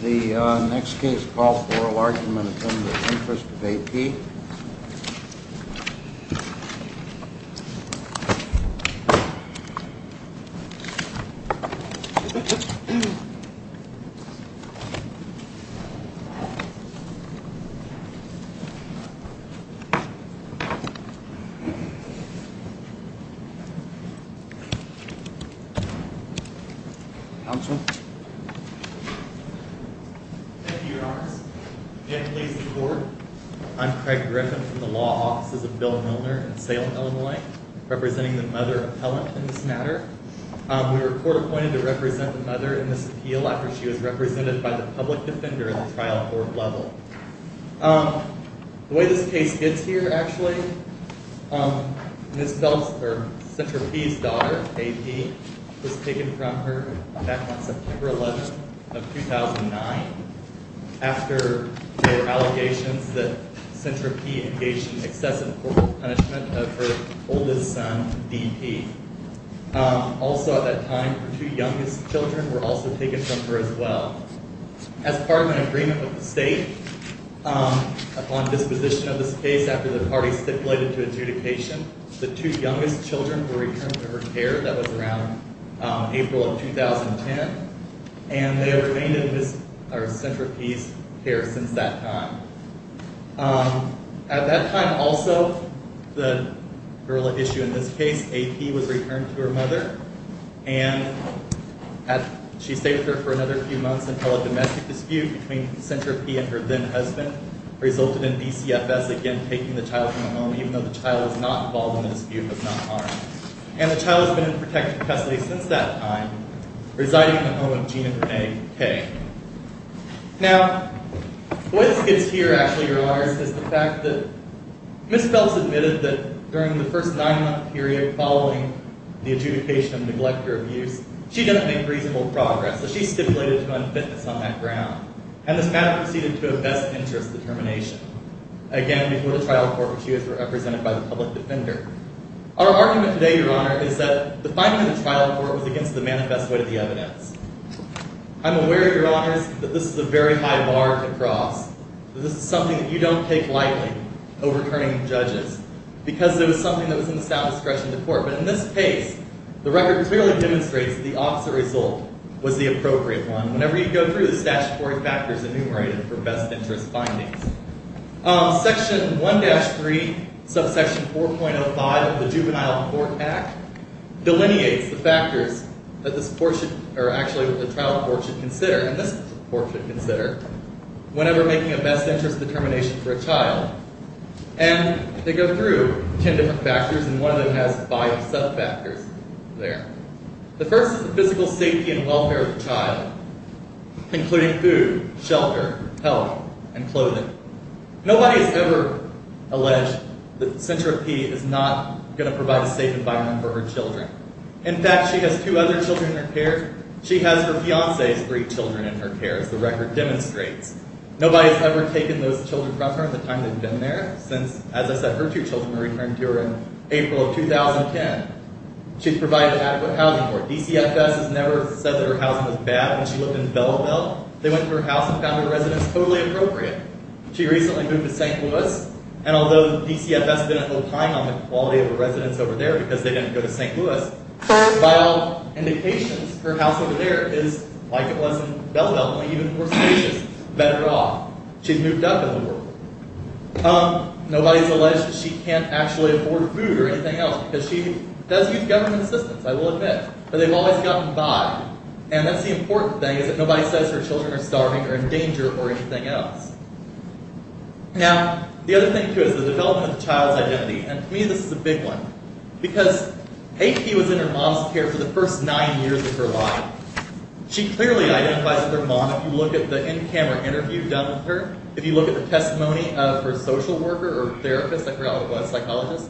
The next case, call for oral argument in the interest of AP. Counsel? Thank you, your honors. May I please the court? I'm Craig Griffin from the law offices of Bill Milner in Salem, Illinois, representing the mother appellant in this matter. We were court-appointed to represent the mother in this appeal after she was represented by the public defender at the trial court level. The way this case gets here, actually, Ms. Centropi's daughter, AP, was taken from her back on September 11, 2009 after there were allegations that Centropi engaged in excessive formal punishment of her oldest son, DP. Also at that time, her two youngest children were also taken from her as well. As part of an agreement with the state, upon disposition of this case after the parties stipulated to adjudication, the two youngest children were returned to her care. That was around April of 2010, and they have remained in Ms. Centropi's care since that time. At that time also, the girl at issue in this case, AP, was returned to her mother, and she stayed with her for another few months until a domestic dispute between Centropi and her then-husband resulted in DCFS again taking the child from the home even though the child was not involved in a dispute of non-harm. And the child has been in protective custody since that time, residing in the home of Gina Renee Kay. Now, the way this gets here, actually, Your Honors, is the fact that Ms. Phelps admitted that during the first nine-month period following the adjudication of neglect or abuse, she didn't make reasonable progress. So she stipulated to unfitness on that ground, and this matter proceeded to a best-interest determination, again, before the trial court, which she was represented by the public defender. Our argument today, Your Honor, is that the finding of the trial court was against the manifest weight of the evidence. I'm aware, Your Honors, that this is a very high bar to cross, that this is something that you don't take lightly, overturning judges, because it was something that was in the statute of discretion of the court. But in this case, the record clearly demonstrates that the opposite result was the appropriate one. Whenever you go through, the statutory factor is enumerated for best-interest findings. Section 1-3, subsection 4.05 of the Juvenile Court Act, delineates the factors that the trial court should consider, and this court should consider, whenever making a best-interest determination for a child. And they go through ten different factors, and one of them has five sub-factors there. The first is the physical safety and welfare of the child, including food, shelter, health, and clothing. Nobody has ever alleged that Centro P is not going to provide a safe environment for her children. In fact, she has two other children in her care. She has her fiancé's three children in her care, as the record demonstrates. Nobody has ever taken those children from her in the time they've been there since, as I said, her two children were returned to her in April of 2010. She's provided adequate housing for her. DCFS has never said that her housing was bad. When she lived in Belleville, they went to her house and found her residence totally appropriate. She recently moved to St. Louis, and although DCFS didn't hold high on the quality of her residence over there because they didn't go to St. Louis, by all indications, her house over there is like it was in Belleville, only even more spacious, better off. She's moved up in the world. Nobody's alleged that she can't actually afford food or anything else because she does use government assistance, I will admit, but they've always gotten by. That's the important thing is that nobody says her children are starving or in danger or anything else. Now, the other thing, too, is the development of the child's identity. To me, this is a big one because AP was in her mom's care for the first nine years of her life. She clearly identifies with her mom. If you look at the in-camera interview done with her, if you look at the testimony of her social worker or therapist, I forgot what it was, psychologist,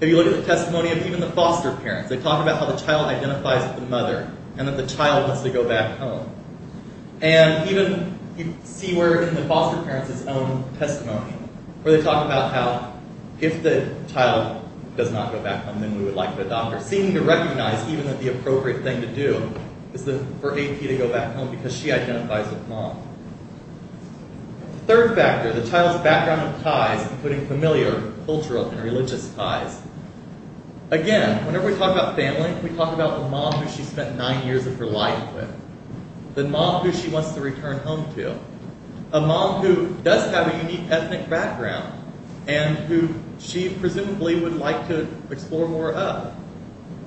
if you look at the testimony of even the foster parents, they talk about how the child identifies with the mother and that the child wants to go back home. And even you see where in the foster parents' own testimony where they talk about how if the child does not go back home, then we would like the doctor, seeming to recognize even that the appropriate thing to do is for AP to go back home because she identifies with mom. Third factor, the child's background and ties, including familiar, cultural, and religious ties. Again, whenever we talk about family, we talk about the mom who she spent nine years of her life with, the mom who she wants to return home to, a mom who does have a unique ethnic background and who she presumably would like to explore more of.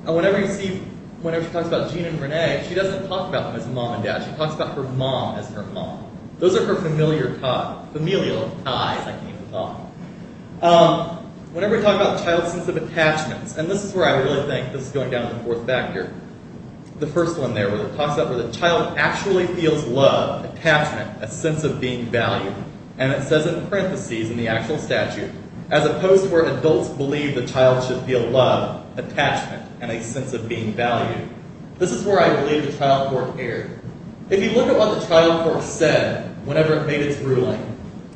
And whenever you see, whenever she talks about Gene and Renee, she doesn't talk about them as mom and dad. She talks about her mom as her mom. Those are her familial ties, I can even call them. Whenever we talk about child's sense of attachments, and this is where I really think this is going down to the fourth factor, the first one there where it talks about where the child actually feels love, attachment, a sense of being valued. And it says in parentheses in the actual statute, as opposed to where adults believe the child should feel love, attachment, and a sense of being valued. This is where I believe the trial court erred. If you look at what the trial court said whenever it made its ruling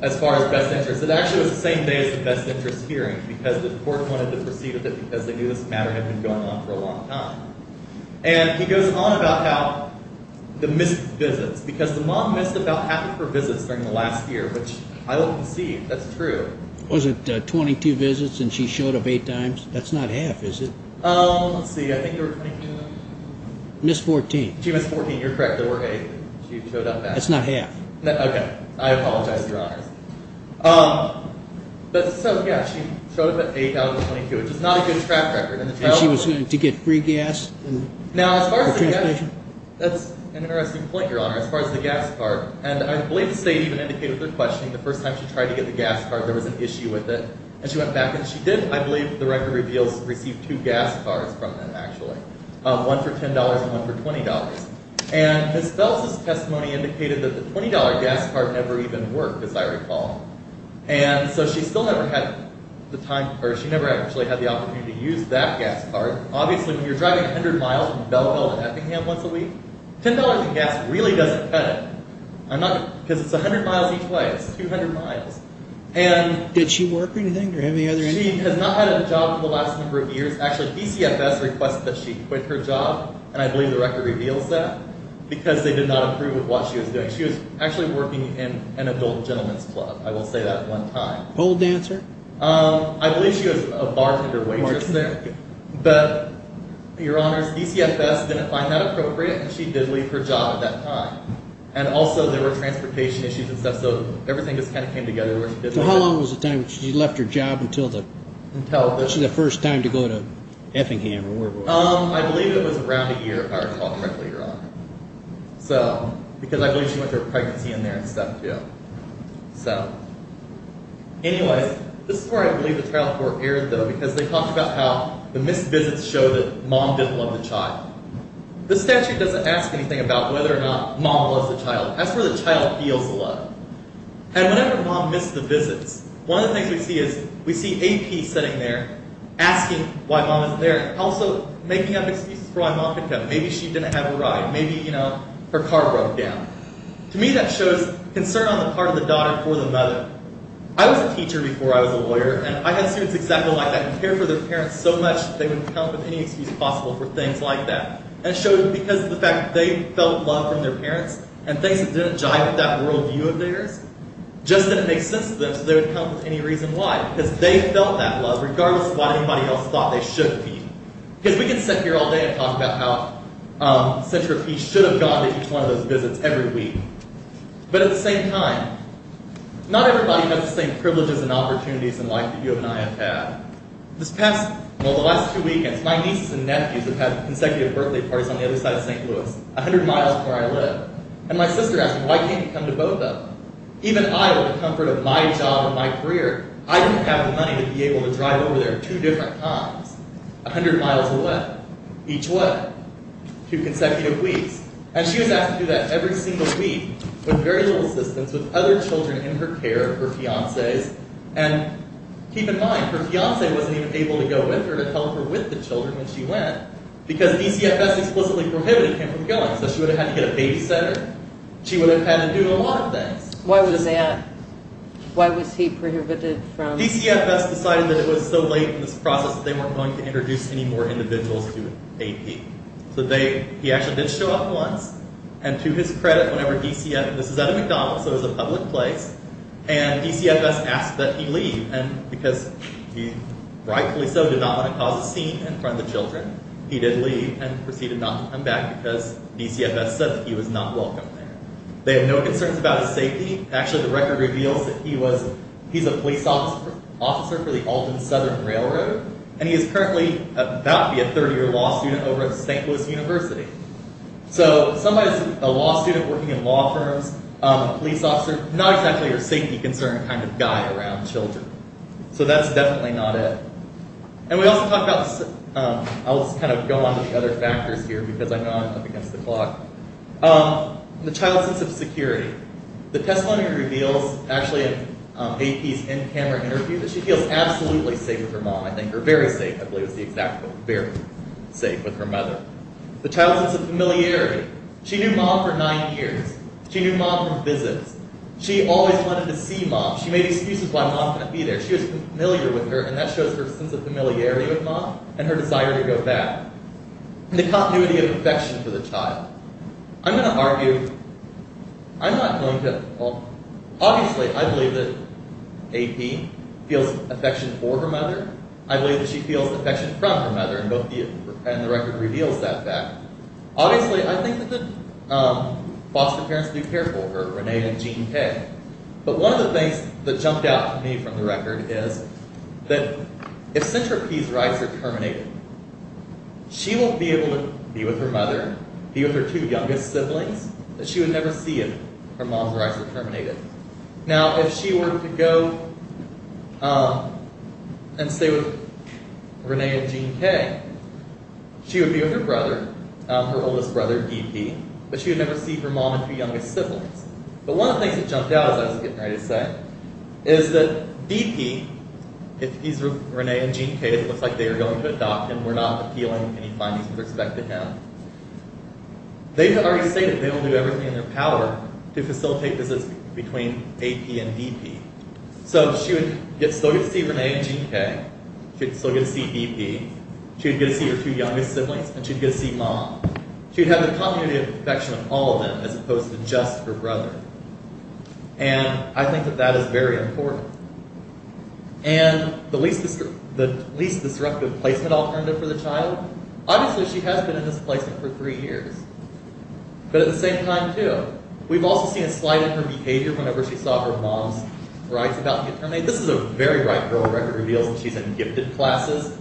as far as best interest, it actually was the same day as the best interest hearing because the court wanted to proceed with it because they knew this matter had been going on for a long time. And he goes on about how the missed visits, because the mom missed about half of her visits during the last year, which I will concede, that's true. Was it 22 visits and she showed up eight times? That's not half, is it? Let's see, I think there were 22. Missed 14. She missed 14, you're correct, there were eight. She showed up back. That's not half. Okay, I apologize, Your Honor. But so, yeah, she showed up at eight out of the 22, which is not a good track record in the trial court. And she was going to get free gas for transportation? That's an interesting point, Your Honor, as far as the gas card. And I believe the state even indicated with their questioning the first time she tried to get the gas card there was an issue with it, and she went back and she did, I believe, the record reveals received two gas cards from them, actually, one for $10 and one for $20. And Ms. Fels' testimony indicated that the $20 gas card never even worked, as I recall. And so she still never had the time, or she never actually had the opportunity to use that gas card. Obviously, when you're driving 100 miles from Belleville to Eppingham once a week, $10 of gas really doesn't cut it. Because it's 100 miles each way, it's 200 miles. Did she work or anything? She has not had a job for the last number of years. Actually, DCFS requests that she quit her job, and I believe the record reveals that, because they did not approve of what she was doing. She was actually working in an adult gentleman's club. I will say that one time. Pole dancer? I believe she was a bartender waitress there. But, Your Honors, DCFS didn't find that appropriate, and she did leave her job at that time. so everything just kind of came together where she did leave it. So how long was the time when she left her job until the first time to go to Eppingham? I believe it was around a year, if I recall correctly, Your Honor. Because I believe she went through a pregnancy in there and stuff, too. Anyway, this is where I believe the trial court erred, though, because they talked about how the missed visits show that mom didn't love the child. The statute doesn't ask anything about whether or not mom loves the child. That's where the child feels the love. And whenever mom missed the visits, one of the things we see is AP sitting there asking why mom isn't there, also making up excuses for why mom couldn't come. Maybe she didn't have a ride. Maybe, you know, her car broke down. To me, that shows concern on the part of the daughter for the mother. I was a teacher before I was a lawyer, and I had students exactly like that who cared for their parents so much that they would come up with any excuse possible for things like that. And it shows because of the fact that they felt love from their parents, and things that didn't jive with that worldview of theirs just didn't make sense to them, so they would come up with any reason why. Because they felt that love, regardless of what anybody else thought they should feel. Because we could sit here all day and talk about how Centro Peace should have gone to each one of those visits every week. But at the same time, not everybody has the same privileges and opportunities in life that you and I have had. This past, well, the last two weekends, my nieces and nephews have had consecutive birthday parties on the other side of St. Louis, a hundred miles from where I live. And my sister asked me, why can't you come to Boca? Even I, with the comfort of my job and my career, I didn't have the money to be able to drive over there two different times. A hundred miles away. Each way. Two consecutive weeks. And she was asked to do that every single week, with very little assistance, with other children in her care, her fiancés. And keep in mind, her fiancé wasn't even able to go with her to help her with the children when she went, because DCFS explicitly prohibited him from going. So she would have had to get a babysitter. She would have had to do a lot of things. Why was that? Why was he prohibited from... DCFS decided that it was so late in this process that they weren't going to introduce any more individuals to AP. So he actually did show up once, and to his credit, whenever DCFS... This was at a McDonald's, so it was a public place. And DCFS asked that he leave, and because he rightfully so did not want to cause a scene in front of the children, he did leave and proceeded not to come back, because DCFS said that he was not welcome there. They have no concerns about his safety. Actually, the record reveals that he was... He's a police officer for the Alton Southern Railroad, and he is currently about to be a third-year law student over at St. Louis University. So somebody who's a law student working in law firms, a police officer, not exactly a safety-concerned kind of guy around children. So that's definitely not it. And we also talk about... I'll just kind of go on to the other factors here, because I know I'm up against the clock. The child's sense of security. The testimony reveals, actually, in AP's in-camera interview, that she feels absolutely safe with her mom, I think, or very safe, I believe is the exact quote, very safe with her mother. The child's sense of familiarity. She knew mom for nine years. She knew mom from visits. She always wanted to see mom. She made excuses why mom couldn't be there. She was familiar with her, and that shows her sense of familiarity with mom and her desire to go back. The continuity of affection for the child. I'm going to argue... I'm not going to... Obviously, I believe that AP feels affection for her mother. I believe that she feels affection from her mother, and the record reveals that fact. Obviously, I think that the foster parents do care for her, Renee and Gene K. But one of the things that jumped out to me from the record is that if Centropy's rights are terminated, she won't be able to be with her mother, be with her two youngest siblings that she would never see if her mom's rights were terminated. Now, if she were to go and stay with Renee and Gene K, she would be with her brother, her oldest brother, DP, but she would never see her mom and two youngest siblings. But one of the things that jumped out, as I was getting ready to say, is that DP, if he's Renee and Gene K, it looks like they are going to adopt him. We're not appealing any findings with respect to him. They've already stated they will do everything in their power to facilitate visits between AP and DP. So she would still get to see Renee and Gene K. She would still get to see DP. She would get to see her two youngest siblings. And she would get to see mom. She would have the continuity of affection of all of them as opposed to just her brother. And I think that that is very important. And the least disruptive placement alternative for the child, obviously she has been in this placement for three years. But at the same time, too, we've also seen a slide in her behavior whenever she saw her mom's rights about to get terminated. This is a very ripe girl record reveals that she's in gifted classes.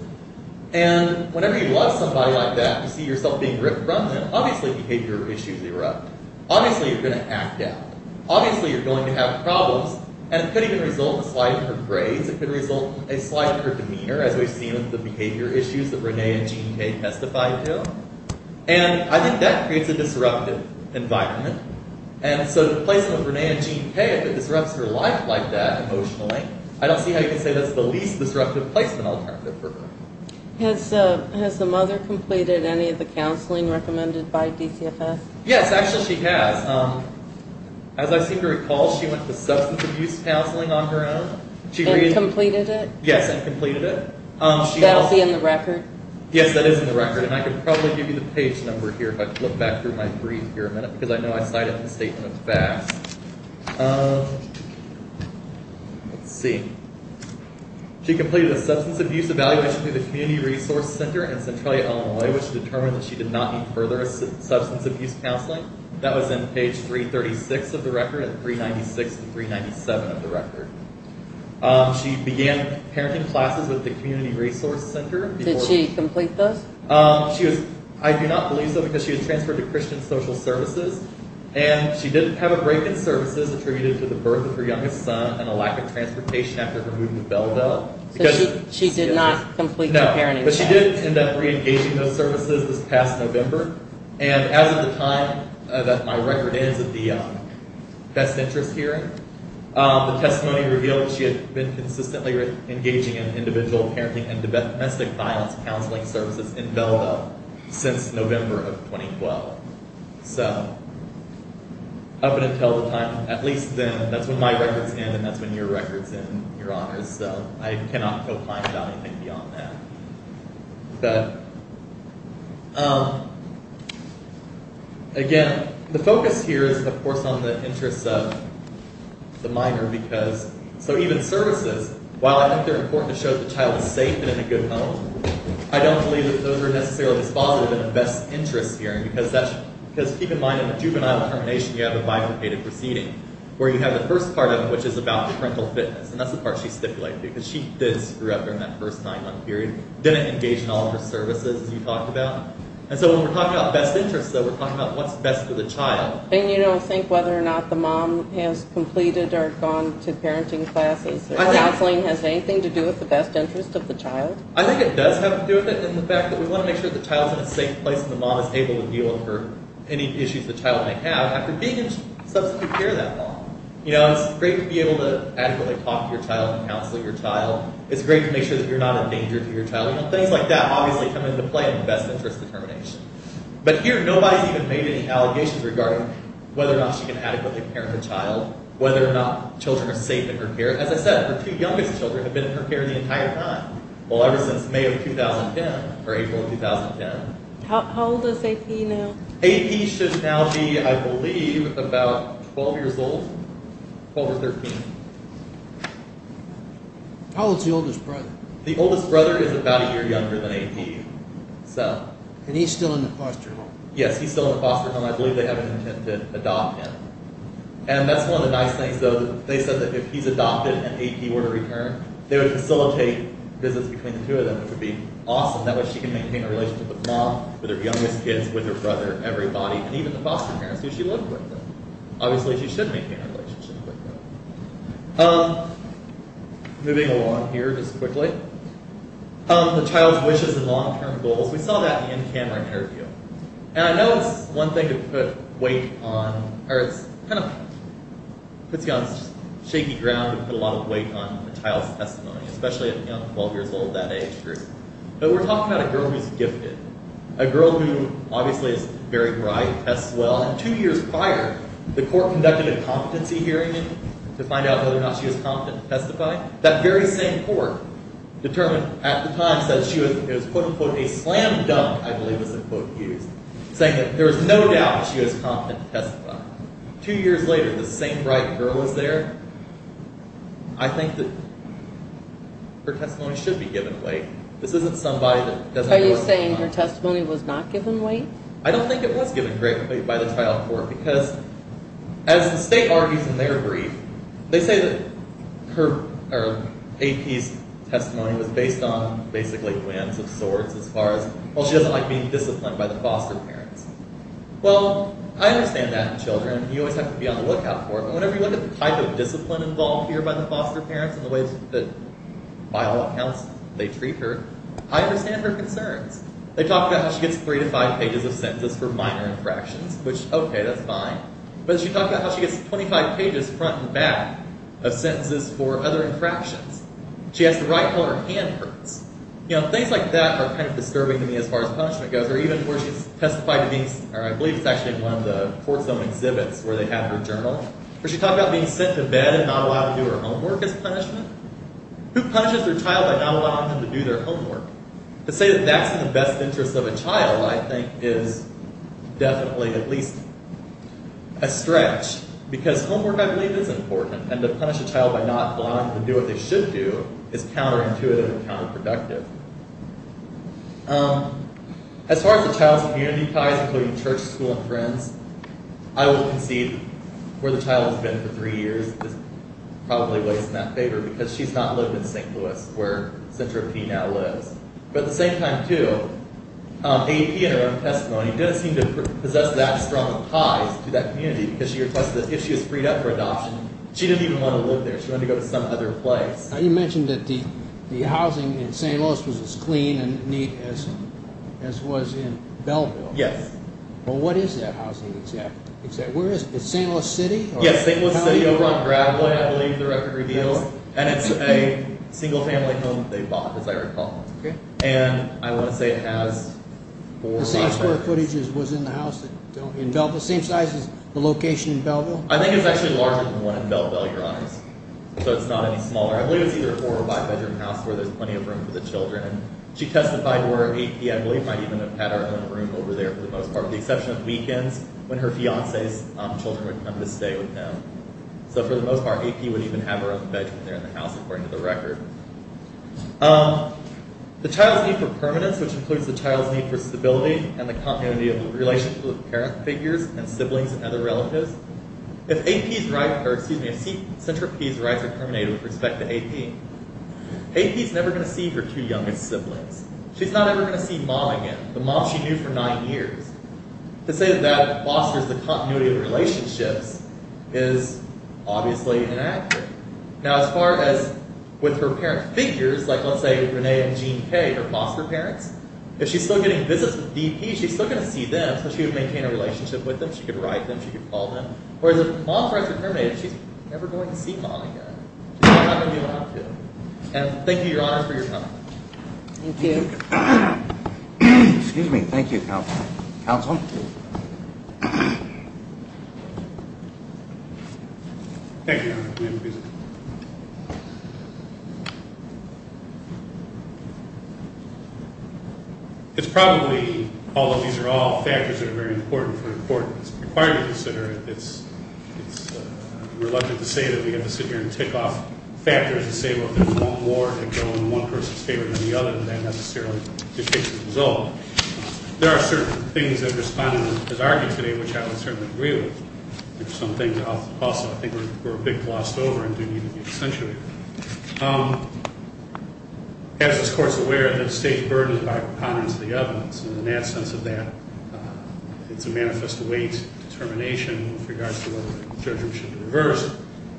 And whenever you love somebody like that, you see yourself being ripped from them, obviously behavior issues erupt. Obviously you're going to act out. Obviously you're going to have problems. And it could even result in a slide in her grades. It could result in a slide in her demeanor, as we've seen with the behavior issues that Renee and Gene K testified to. And I think that creates a disruptive environment. And so the placement of Renee and Gene K, if it disrupts her life like that emotionally, I don't see how you can say that's the least disruptive placement alternative for her. Has the mother completed any of the counseling recommended by DCFS? Yes, actually she has. As I seem to recall, she went to substance abuse counseling on her own. And completed it? Yes, and completed it. That will be in the record? Yes, that is in the record. And I could probably give you the page number here if I flip back through my brief here a minute, because I know I cited the statement of facts. Let's see. She completed a substance abuse evaluation through the Community Resource Center in Centralia, Illinois, which determined that she did not need further substance abuse counseling. That was in page 336 of the record and 396 and 397 of the record. She began parenting classes with the Community Resource Center. Did she complete those? I do not believe so, because she was transferred to Christian Social Services. And she did have a break in services attributed to the birth of her youngest son and a lack of transportation after her move to Belleville. So she did not complete the parenting classes? No, but she did end up re-engaging those services this past November. And as of the time that my record is of the best interest hearing, the testimony revealed that she had been consistently engaging in individual parenting and domestic violence counseling services in Belleville since November of 2012. So up until the time, at least then, that's when my record's in and that's when your record's in, Your Honors. So I cannot feel fine about anything beyond that. Again, the focus here is, of course, on the interests of the minor. So even services, while I think they're important to show that the child is safe and in a good home, I don't believe that those are necessarily as positive in a best interest hearing because keep in mind, in a juvenile termination, you have a bifurcated proceeding where you have the first part of it, which is about parental fitness, and that's the part she stipulated because she did screw up during that first nine-month period, didn't engage in all of her services, as you talked about. And so when we're talking about best interests, we're talking about what's best for the child. And you don't think whether or not the mom has completed or gone to parenting classes or counseling has anything to do with the best interest of the child? I think it does have to do with it in the fact that we want to make sure the child's in a safe place and the mom is able to deal with her any issues the child may have after being in substantive care that long. It's great to be able to adequately talk to your child and counsel your child. It's great to make sure that you're not a danger to your child. Things like that obviously come into play in the best interest determination. But here, nobody's even made any allegations regarding whether or not she can adequately parent her child, whether or not children are safe in her care. As I said, her two youngest children have been in her care the entire time. Well, ever since May of 2010, or April of 2010. How old is AP now? AP should now be, I believe, about 12 years old. 12 or 13. How old's the oldest brother? The oldest brother is about a year younger than AP. And he's still in the foster home? Yes, he's still in the foster home. I believe they have an intent to adopt him. And that's one of the nice things, though, they said that if he's adopted and AP were to return, they would facilitate visits between the two of them, which would be awesome. That way she can maintain a relationship with mom, with her youngest kids, with her brother, everybody, and even the foster parents who she lived with. Obviously, she should maintain a relationship like that. Moving along here just quickly. The child's wishes and long-term goals. We saw that in the camera interview. And I know it's one thing to put weight on, or it's kind of puts you on shaky ground and put a lot of weight on a child's testimony, especially at 12 years old, that age group. But we're talking about a girl who's gifted. A girl who, obviously, is very bright, tests well. And two years prior, the court conducted a competency hearing to find out whether or not she was competent to testify. That very same court determined at the time that she was, quote-unquote, a slam dunk, I believe is the quote used, saying that there was no doubt she was competent to testify. Two years later, the same bright girl is there. I think that her testimony should be given weight. This isn't somebody that doesn't... Are you saying her testimony was not given weight? I don't think it was given great weight by the trial court, because, as the state argues in their brief, they say that her, or AP's testimony was based on basically wins of sorts, as far as, well, she doesn't like being disciplined by the law. I understand that in children. You always have to be on the lookout for it. But whenever you look at the type of discipline involved here by the foster parents and the ways that, by all accounts, they treat her, I understand her concerns. They talk about how she gets three to five pages of sentences for minor infractions, which, okay, that's fine. But she talked about how she gets 25 pages, front and back, of sentences for other infractions. She has to write while her hand hurts. You know, things like that are kind of disturbing to me, as far as punishment goes, or even where she testified to being, or I believe it's actually in one of the court zone exhibits where they have her journal, where she talked about being sent to bed and not allowed to do her homework as punishment. Who punishes their child by not allowing them to do their homework? To say that that's in the best interest of a child, I think, is definitely at least a stretch, because homework, I believe, is important, and to punish a child by not allowing them to do what they should do is counterintuitive and counterproductive. Um, as far as the child's community ties, including church, school, and friends, I will concede where the child has been for three years probably weighs in that favor, because she's not lived in St. Louis, where Cintra P. now lives. But at the same time, too, um, AEP in her own testimony doesn't seem to possess that strong of ties to that community, because she requested that if she was freed up for adoption, she didn't even want to live there. She wanted to go to some other place. Now, you mentioned that the housing in St. Louis was as clean and neat as was in Belleville. Yes. Well, what is that housing exactly? Where is it? Is it St. Louis City? Yes, St. Louis City, over on Gravelway, I believe, the record reveals. And it's a single-family home they bought, as I recall. Okay. And I want to say it has four apartments. The same square footage was in the house in Belleville? Same size as the location in Belleville? I think it's actually larger than the one in Belleville, Your Honors. So it's not any smaller. I believe it's either a four- or five-bedroom house where there's plenty of room for the children. She testified where AEP, I believe, might even have had her own room over there, for the most part, with the exception of weekends when her fiancé's children would come to stay with them. So, for the most part, AEP would even have her own bedroom there in the house, according to the record. Um, the child's need for permanence, which includes the child's need for stability and the continuity of relations with parent figures and siblings and other relatives. If AEP's rights are terminated with respect to AEP, AEP's never going to see her two youngest siblings. She's not ever going to see Mom again, the mom she knew for nine years. To say that that fosters the continuity of relationships is obviously inaccurate. Now, as far as with her parent figures, like let's say Renee and Jean Kay, her foster parents, if she's still getting visits with DP, she's still going to see them, so she would maintain a relationship with them. She could write them. She could call them. Whereas if Mom's rights are terminated, she's never going to see Mom again. She's not going to be allowed to. And thank you, Your Honor, for your time. Thank you. Excuse me. Thank you, Counsel. Thank you, Your Honor. It's probably, although these are all factors that are very important for importance required to consider, it's reluctant to say that we have to sit here and tick off factors to say, well, if there's one more, they go in one person's favor than the other, and that necessarily dictates the result. There are certain things that have responded as argued today, which I would certainly agree with. There's some things also I think were a bit glossed over and do need to be accentuated. As this Court's aware, the state's burdened by repondents of the evidence, and in that sense of that, it's a manifest weight determination with regards to whether the judgment should reverse.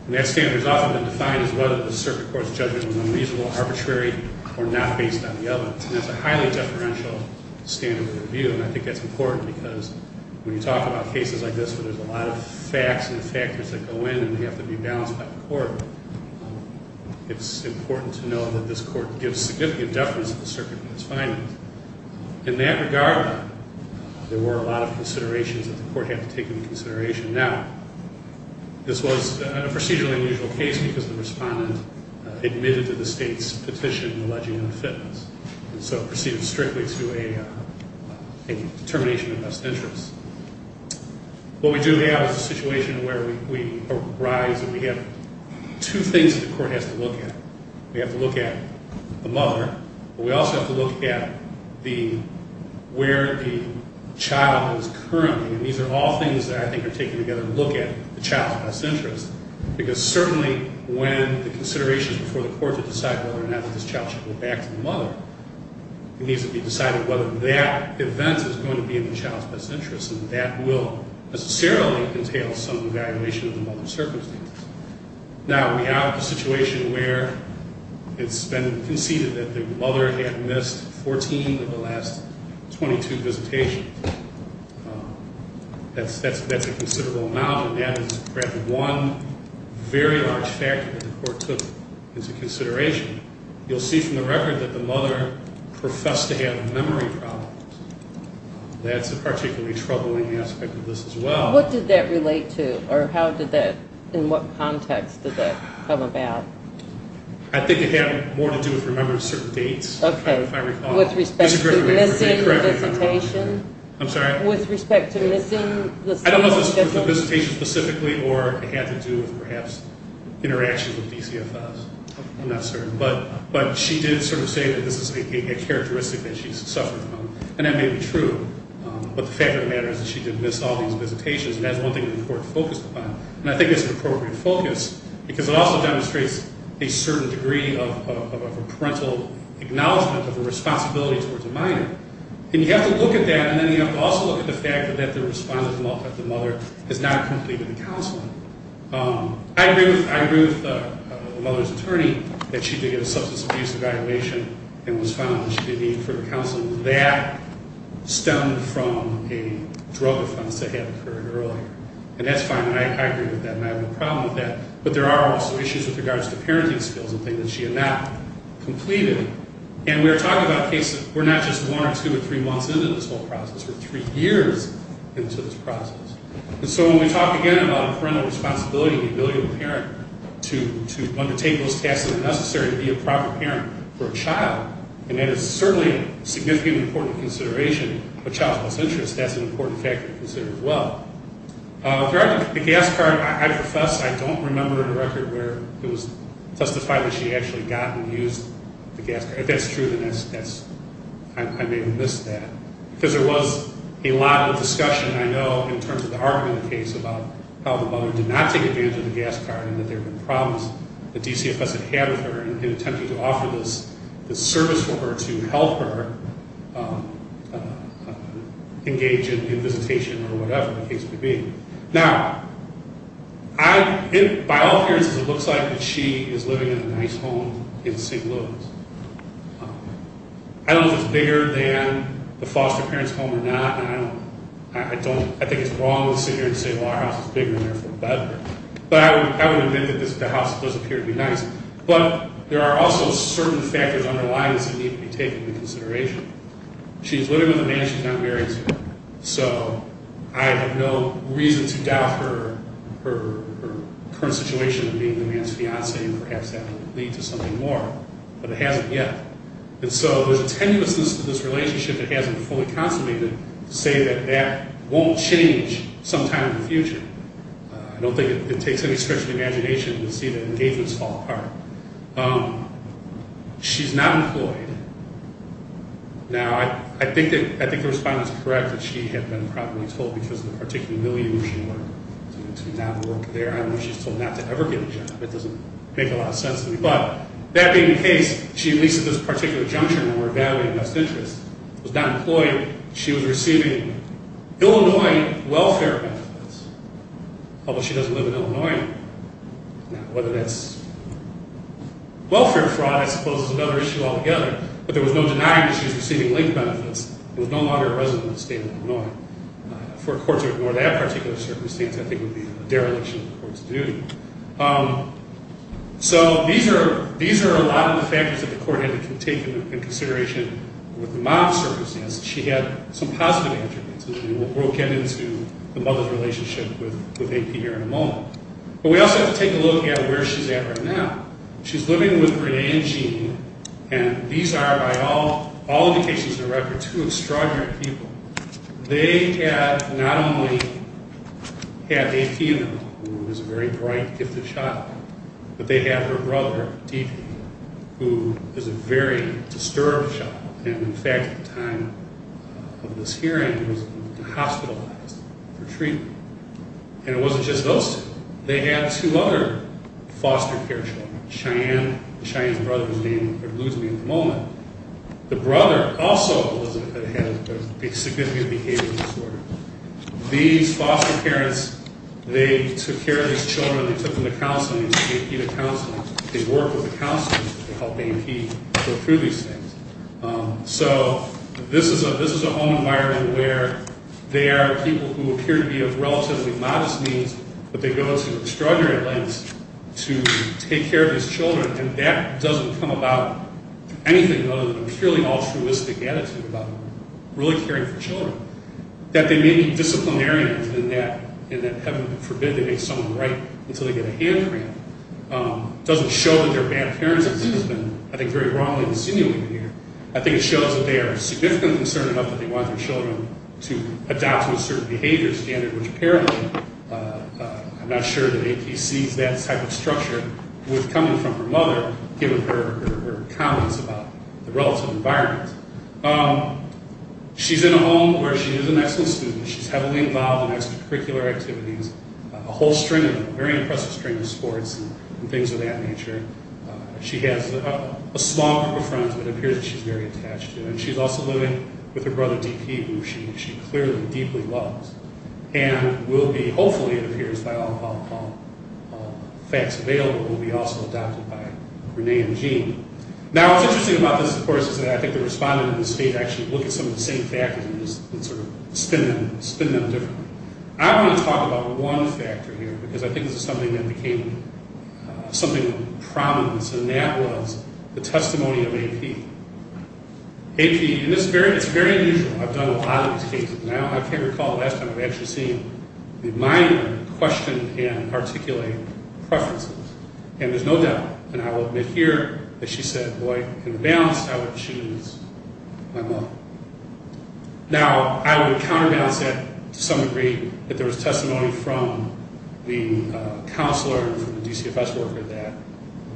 And that standard has often been defined as whether the circuit court's judgment is unreasonable, arbitrary, or not based on the evidence. And that's a highly deferential standard of review. And I think that's important because when you talk about cases like this where there's a lot of facts and factors that go in and they have to be balanced by the Court, it's important to know that this Court gives significant deference to the circuit in its findings. In that regard, there were a lot of considerations that the Court had to take into consideration. Now, this was a procedurally unusual case because the respondent admitted to the state's petition alleging unfitness. And so it proceeded strictly to a determination of best interest. What we do have is a situation where we arise and we have two things that the Court has to look at. We have to look at the mother, but we also have to look at where the child is currently. And these are all things that I think are taken together to look at the child's best interest. Because certainly when the considerations before the Court are to decide whether or not this child should go back to the mother, it needs to be decided whether that event is going to be in the child's best interest. And that will necessarily entail some evaluation of the mother's circumstances. Now, we have a situation where it's been conceded that the mother had missed 14 of the last 22 visitations. That's a considerable amount and that is perhaps one very large factor that the Court took into consideration. You'll see from the record that the mother professed to have memory problems. That's a particularly troubling aspect of this as well. What did that relate to, or how did that in what context did that come about? I think it had more to do with remembering certain dates. Okay. With respect to missing visitation? I'm sorry? With respect to missing the same visitation? I don't know if it was the visitation specifically or it had to do with perhaps interaction with DCFS. I'm not certain. But she did sort of say that this is a characteristic that she's suffered from. And that may be true. But the fact of the matter is that she did miss all these visitations. And that's one thing that the Court focused upon. And I think it's an appropriate focus because it also demonstrates a certain degree of parental acknowledgement of a responsibility towards a minor. And you have to look at that and then you have to also look at the fact that the response of the mother has not completed the counseling. I agree with the mother's attorney that she did get a substance abuse evaluation and was found that she did need further counseling. That stemmed from a drug offense that had occurred earlier. And that's fine. I agree with that and I have no problem with that. But there are also issues with regards to parenting skills and things that she had not completed. And we're talking about cases where we're not just one or two or three months into this whole process. We're three years into this process. And so when we talk again about parental responsibility and the ability of a parent to undertake those tasks that are necessary to be a proper parent for a child, and that is certainly a significantly important consideration, a child's best interest, that's an important factor to consider as well. With regard to the gas card, I profess I don't remember a record where it was testified that she actually got and used the gas card. If that's true, then that's I may have missed that. Because there was a lot of discussion I know in terms of the argument in the case about how the mother did not take advantage of the gas card and that there were problems that DCFS had had with her in attempting to offer this service for her to help her engage in visitation or whatever the case may be. Now, by all appearances, it looks like that she is living in a nice home in St. Louis. I don't know if it's bigger than the foster parent's home or not, and I think it's wrong to sit here and say, well, our house is bigger and therefore better. But I would admit that the house does appear to be nice. But there are also certain factors underlying this that need to be taken into consideration. She's living with a man she's not married to. So I have no reason to doubt her current situation of being the man's fiancée, and perhaps that will lead to something more. But it hasn't yet. And so there's a tenuousness to this relationship that hasn't fully consummated to say that that won't change sometime in the future. I don't think it takes any stretch of the imagination to see the engagements fall apart. She's not employed. Now, I think the respondent's correct that she had been probably told because of the particular milieu where she worked to not work there. I don't know if she was told not to ever get a job. It doesn't make a lot of sense to me. But that being the case, she leases this particular junction where her badly-invested interest was not employed. She was receiving Illinois although she doesn't live in Illinois. Now, whether that's welfare fraud, I suppose, is another issue altogether. But there was no denying that she was receiving linked benefits. She was no longer a resident of the state of Illinois. For a court to ignore that particular circumstance, I think, would be a dereliction of the court's duty. So these are a lot of the factors that the court had to take into consideration with the mom's circumstances. She had some positive attributes. We'll get into the mother's relationship with AP here in a moment. But we also have to take a look at where she's at right now. She's living with Renee and Gene, and these are, by all indications and records, two extraordinary people. They had not only had AP in them, who was a very bright, gifted child, but they had her brother, who is a very disturbed child, and in fact at the time of this hearing was hospitalized for treatment. And it wasn't just those two. They had two other foster care children. Cheyenne and Cheyenne's brother's name eludes me at the moment. The brother also had a significant behavior disorder. These foster parents, they took care of these children. They took them to counseling. They gave AP to counseling. They worked with the counseling to help AP go through these things. So this is a home environment where there are people who appear to be of relatively modest means, but they go to extraordinary lengths to take care of these children, and that doesn't come about anything other than a purely altruistic attitude about really caring for children. That they may be disciplinarians in that, and that heaven forbid they make someone right until they get a hand cramp, doesn't show that they're bad parents. I think it's very wrongly insinuated here. I think it shows that they are significantly concerned enough that they want their children to adopt to a certain behavior standard, which apparently, I'm not sure that AP sees that type of structure with coming from her mother giving her comments about the relative environment. She's in a home where she is an excellent student. She's heavily involved in extracurricular activities, a whole string, a very impressive string of sports and things of that nature. She has a small group of friends that it appears that she's very attached to, and she's also living with her brother, DP, who she clearly, deeply loves. And will be, hopefully it appears, by all facts available, will be also adopted by Renee and Jean. Now, what's interesting about this, of course, is that I think the respondents in the state actually look at some of the same factors and sort of spin them differently. I want to talk about one factor here, because I think this is something that became something of prominence, and that was the testimony of AP. AP, and it's very unusual. I've done a lot of these cases, and I can't recall the last time I've actually seen the minor question and articulate preferences. And there's no doubt, and I will admit here that she said, boy, in the balance, I would choose my mom. Now, I would counterbalance that to some degree, that there was testimony from the counselor and from the DCFS worker that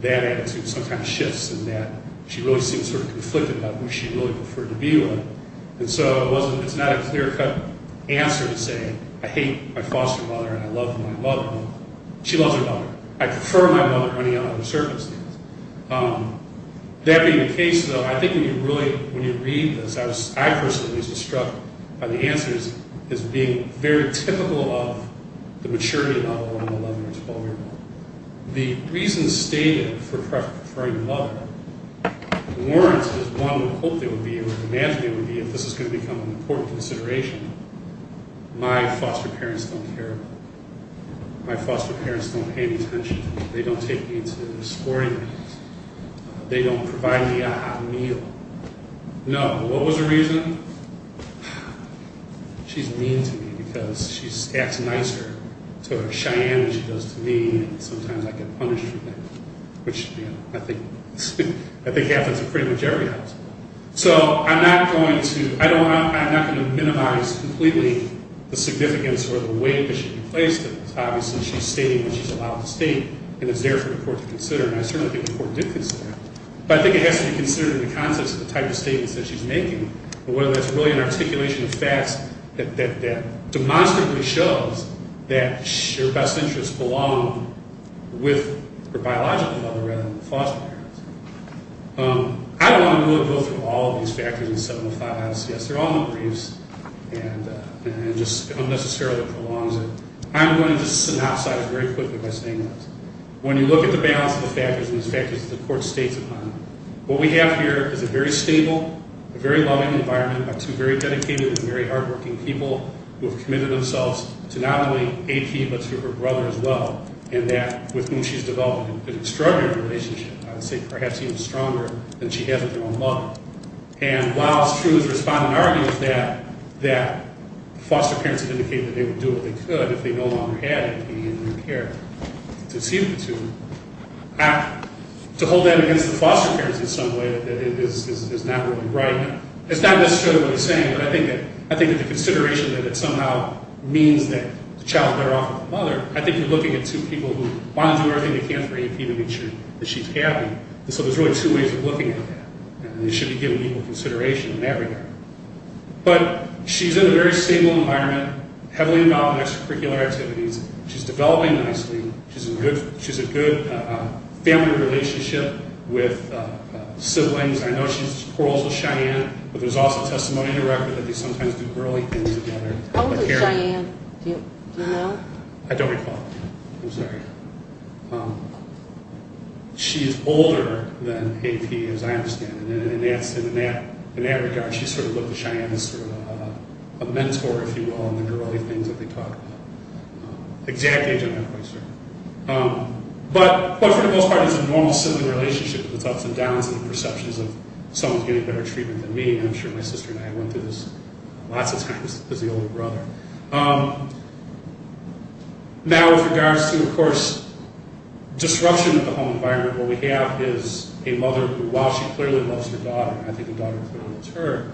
that attitude sometimes shifts and that she really seems sort of conflicted about who she really preferred to be with. And so it's not a clear-cut answer to say, I hate my foster mother, and I love my mother. She loves her mother. I prefer my mother running out on the surface. That being the case, though, I think when you really, when you read this, I personally was just struck by the answers as being very typical of the maturity level of an 11- or 12-year-old. The reasons stated for preferring your mother weren't as one would hope they would be or imagine they would be if this is going to become an important consideration. My foster parents don't care. My foster parents don't pay any attention to me. They don't take me to sporting events. They don't provide me a hot meal. No, but what was the reason? She's mean to me because she acts nicer to Cheyenne than she does to me, and sometimes I get punished for that, which I think happens in pretty much every household. So I'm not going to minimize completely the significance or the weight that she plays to this. Obviously, she's stating what she's allowed to state, and it's there for the court to consider, and I certainly think the court did consider that, but I think it has to be considered in the context of the type of statements that she's making, whether that's really an articulation of facts that demonstrably shows that your best interests belong with her biological mother rather than the foster parents. I don't want to go through all of these factors in 705. Yes, they're all in the briefs, and it just unnecessarily prolongs it. I'm going to synopsize very quickly by saying this. When you look at the balance of the factors, and these factors that the court states upon, what we have here is a very stable, a very loving environment by two very dedicated and very hardworking people who have committed themselves to not only the child and that with whom she's developed an extraordinary relationship, I would say perhaps even stronger than she has with her own mother. And while it's true, as the respondent argues, that foster parents have indicated that they would do what they could if they no longer had the need and the care to see the children, to hold that against the foster parents in some way is not really right. It's not necessarily what he's saying, but I think that the consideration that it somehow means that the child is better off with the mother, I think you're looking at two people who want to do everything they can for AP to make sure that she's happy. So there's really two ways of looking at that. And it should be given equal consideration in that regard. But she's in a very stable environment, heavily involved in extracurricular activities. She's developing nicely. She's in a good family relationship with siblings. I know she quarrels with Cheyenne, but there's also testimony in the record that they sometimes do girly things together. How old is Cheyenne? Do you know? I don't recall. I'm sorry. She's older than AP, as I understand it. And in that regard, she's sort of looked at Cheyenne as sort of a mentor, if you will, in the girly things that they talk about. Exactly in that way, sir. But for the most part, it's a normal sibling relationship. There's ups and downs in the perceptions of someone getting better treatment than me. And I'm sure my sister and I went through this lots of times as the older brother. Now, with regards to, of course, disruption of the home environment, what we have is a mother who, while she clearly loves her daughter, and I think the daughter clearly loves her,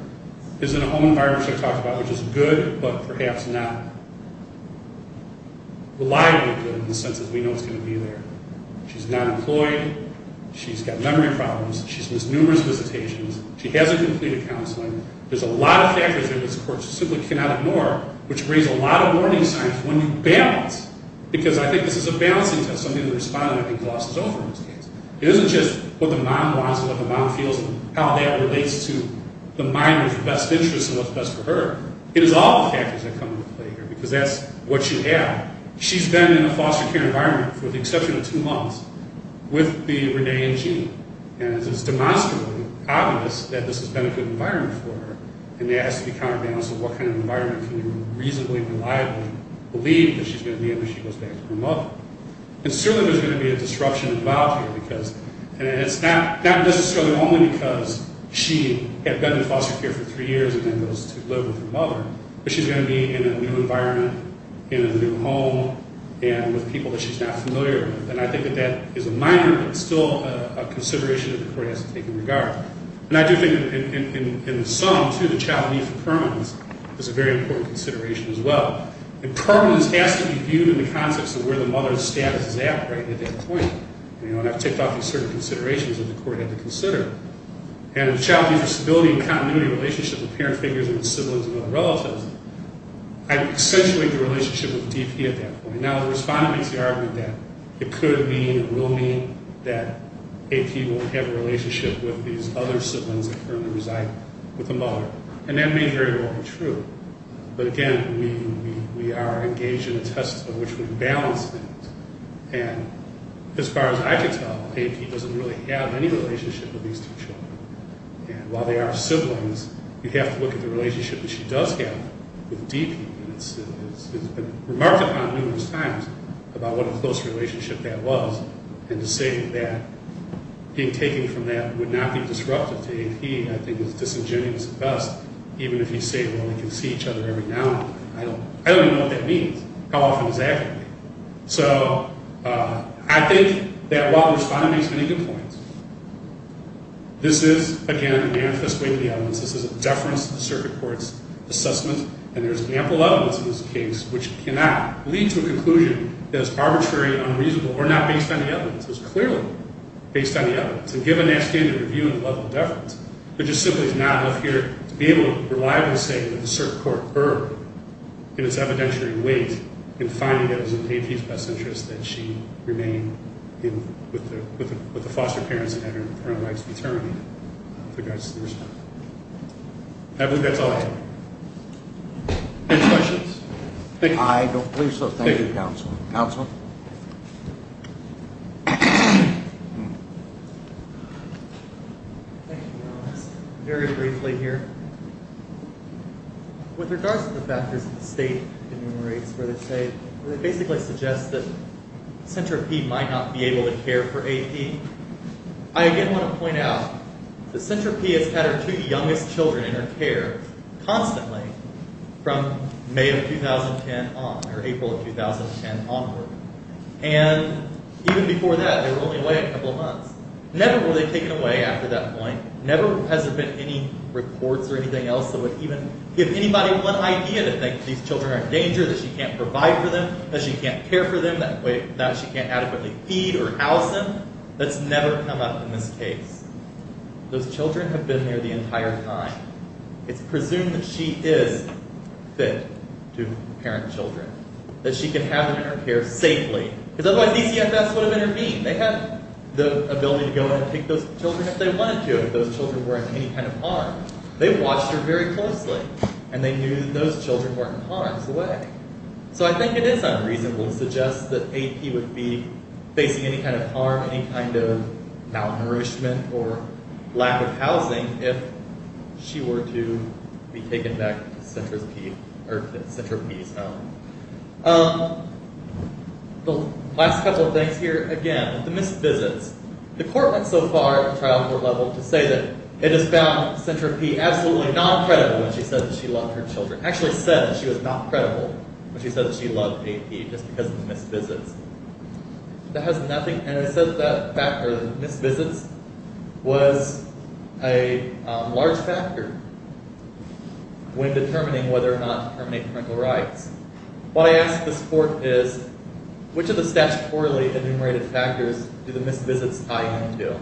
is in a home environment, which I talked about, which is good, but perhaps not reliably good in the sense that we know it's going to be there. She's not employed. She's got memory problems. She's missed numerous visitations. She hasn't completed counseling. There's a lot of factors in this, of course, you simply cannot ignore, which brings a lot of warning signs when you balance. Because I think this is a balancing test. Some people respond, and it glosses over in this case. It isn't just what the mom wants and what the mom feels and how that relates to the minor's best interests and what's best for her. It is all the factors that come into play here. Because that's what you have. She's been in a foster care environment for the exception of two months with the Renee and Jean. And it's demonstrably obvious that this has been a good environment for her. And there has to be counterbalance of what kind of environment can you reasonably and reliably believe that she's going to be in when she goes back to her mother. And certainly there's going to be a disruption involved here because, and it's not necessarily only because she had been in foster care for three years and then goes to live with her mother, but she's going to be in a new environment, in a new home, and with people that she's not familiar with. And I think that that is a minor, but still a consideration that the court has to take into regard. And I do think in the sum, too, the child need for permanence is a very important consideration as well. And permanence has to be viewed in the context of where the mother's status is at right at that point. And I've ticked off these certain considerations that the court had to consider. And the child need for stability and continuity in relationship with parent figures and siblings and other relatives, I accentuate the relationship with DP at that point. Now, the respondent makes the argument that it could mean and will mean that AP won't have a relationship with these other siblings that currently reside with the mother. And that may very well be true. But again, we are engaged in a test of which we balance things. And as far as I can tell, AP doesn't really have any relationship with these two children. And while they are siblings, you have to look at the relationship that she does have with DP. And it's been remarked upon numerous times about what a close relationship that was. And to say that being taken from that would not be disruptive to AP, I think, is disingenuous at best, even if you say, well, they can see each other every now and then. I don't even know what that means. How often does that happen? So, I think that while the respondent makes many good points, this is, again, a manifest way to the evidence. This is a deference to the circuit court's assessment, and there's ample evidence in this case which cannot lead to a conclusion that is arbitrary, unreasonable, or not based on the evidence. It's clearly based on the evidence. And given that standard review and level of deference, it just simply is not enough here to be able to reliably say that the circuit court erred in its evidentiary weight in finding that it was in AP's best interest that she remain with the foster parents that had their own lives determined with regards to the respondent. I believe that's all. Any questions? I don't believe so. Thank you, counsel. Thank you, Your Honor. Very briefly here. With regards to the factors that the state enumerates where they say, where they basically suggest that centripede might not be able to care for AP, I again want to point out that Centripede has had her two youngest children in her care constantly from May of 2010 on, or April of 2010 onward. And even before that, they were only away a couple of months. Never were they taken away after that point. Never has there been any reports or anything else that would even give anybody one idea to think that these children are in danger, that she can't provide for them, that she can't care for them, that she can't adequately feed or house them. That's never come up in this case. Those children have been there the entire time. It's presumed that she is fit to parent children. That she can have them in her care safely. Because otherwise DCFS would have intervened. They had the ability to go in and take those children if they wanted to, if those children were in any kind of harm. They watched her very closely. And they knew those children weren't in harm's way. So I think it is unreasonable to suggest that AP would be facing any kind of harm, any kind of malnourishment or lack of housing if she were to be taken back to CentraP or to CentraP's home. The last couple of things here, again, the missed visits. The court went so far at the trial court level to say that it has found CentraP absolutely not credible when she said that she loved her children. Actually said that she was not credible when she said that she loved AP just because of the missed visits. That has nothing, and it says that the missed visits was a large factor when determining whether or not to terminate parental rights. What I ask this court is which of the statutorily enumerated factors do the missed visits tie into?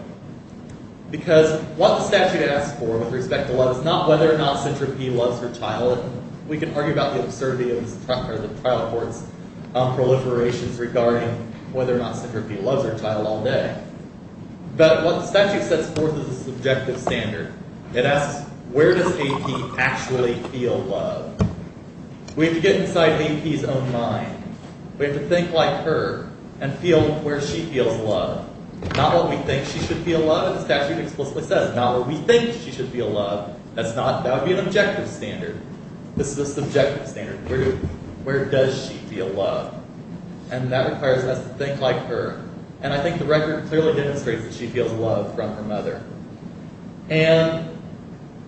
Because what the statute asks for with respect to love is not whether or not CentraP loves her child. We can argue about the absurdity of the trial court's proliferations regarding whether or not CentraP loves her child all day. But what the statute sets forth is a subjective standard. It asks, where does AP actually feel love? We have to get inside AP's own mind. We have to think like her and feel where she feels love. Not what we think she should feel love. The statute explicitly says not what we think she should feel love. That would be an objective standard. This is a subjective standard. Where does she feel love? And that requires us to think like her. And I think the record clearly demonstrates that she feels love from her mother. And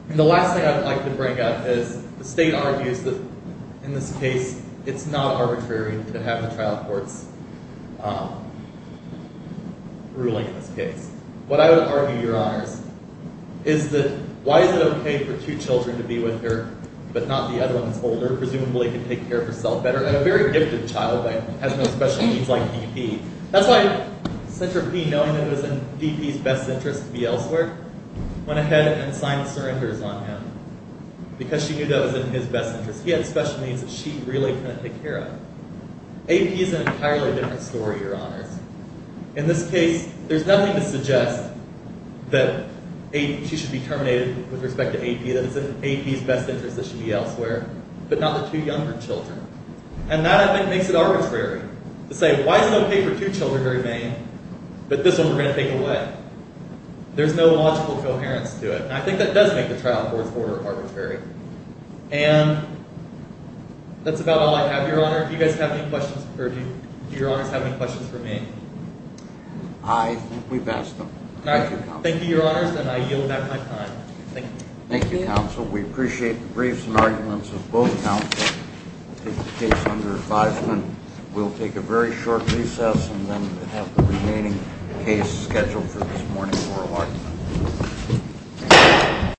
the last thing I would like to bring up is the state argues that in this case, it's not arbitrary to have the trial court's ruling in this case. What I would argue, Your Honors, is that why is it okay for two children to be with her but not the other one who's older, presumably can take care of herself better, and a very gifted child that has no special needs like DP? That's why CentraP, knowing that it was in DP's best interest to be elsewhere, went ahead and signed surrenders on him because she knew that was in his best interest. He had special needs that she really couldn't take care of. AP's an entirely different story, Your Honors. In this case, there's nothing to suggest that she should be terminated with respect to AP, that it's in AP's best interest that she be elsewhere, but not the two younger children. And that, I think, makes it arbitrary to say, why is it okay for two children to remain but this one we're going to take away? There's no logical coherence to it. And I think that does make the trial court's order arbitrary. And that's about all I have, Your Honor. Do you guys have any questions, or do Your Honors have any questions for me? I think we've asked them. Thank you, Counsel. Thank you, Your Honors, and I yield back my time. Thank you, Counsel. We appreciate the briefs and arguments of both Counsel to take the case under advisement. We'll take a very short recess and then have the remaining case scheduled for this morning for argument.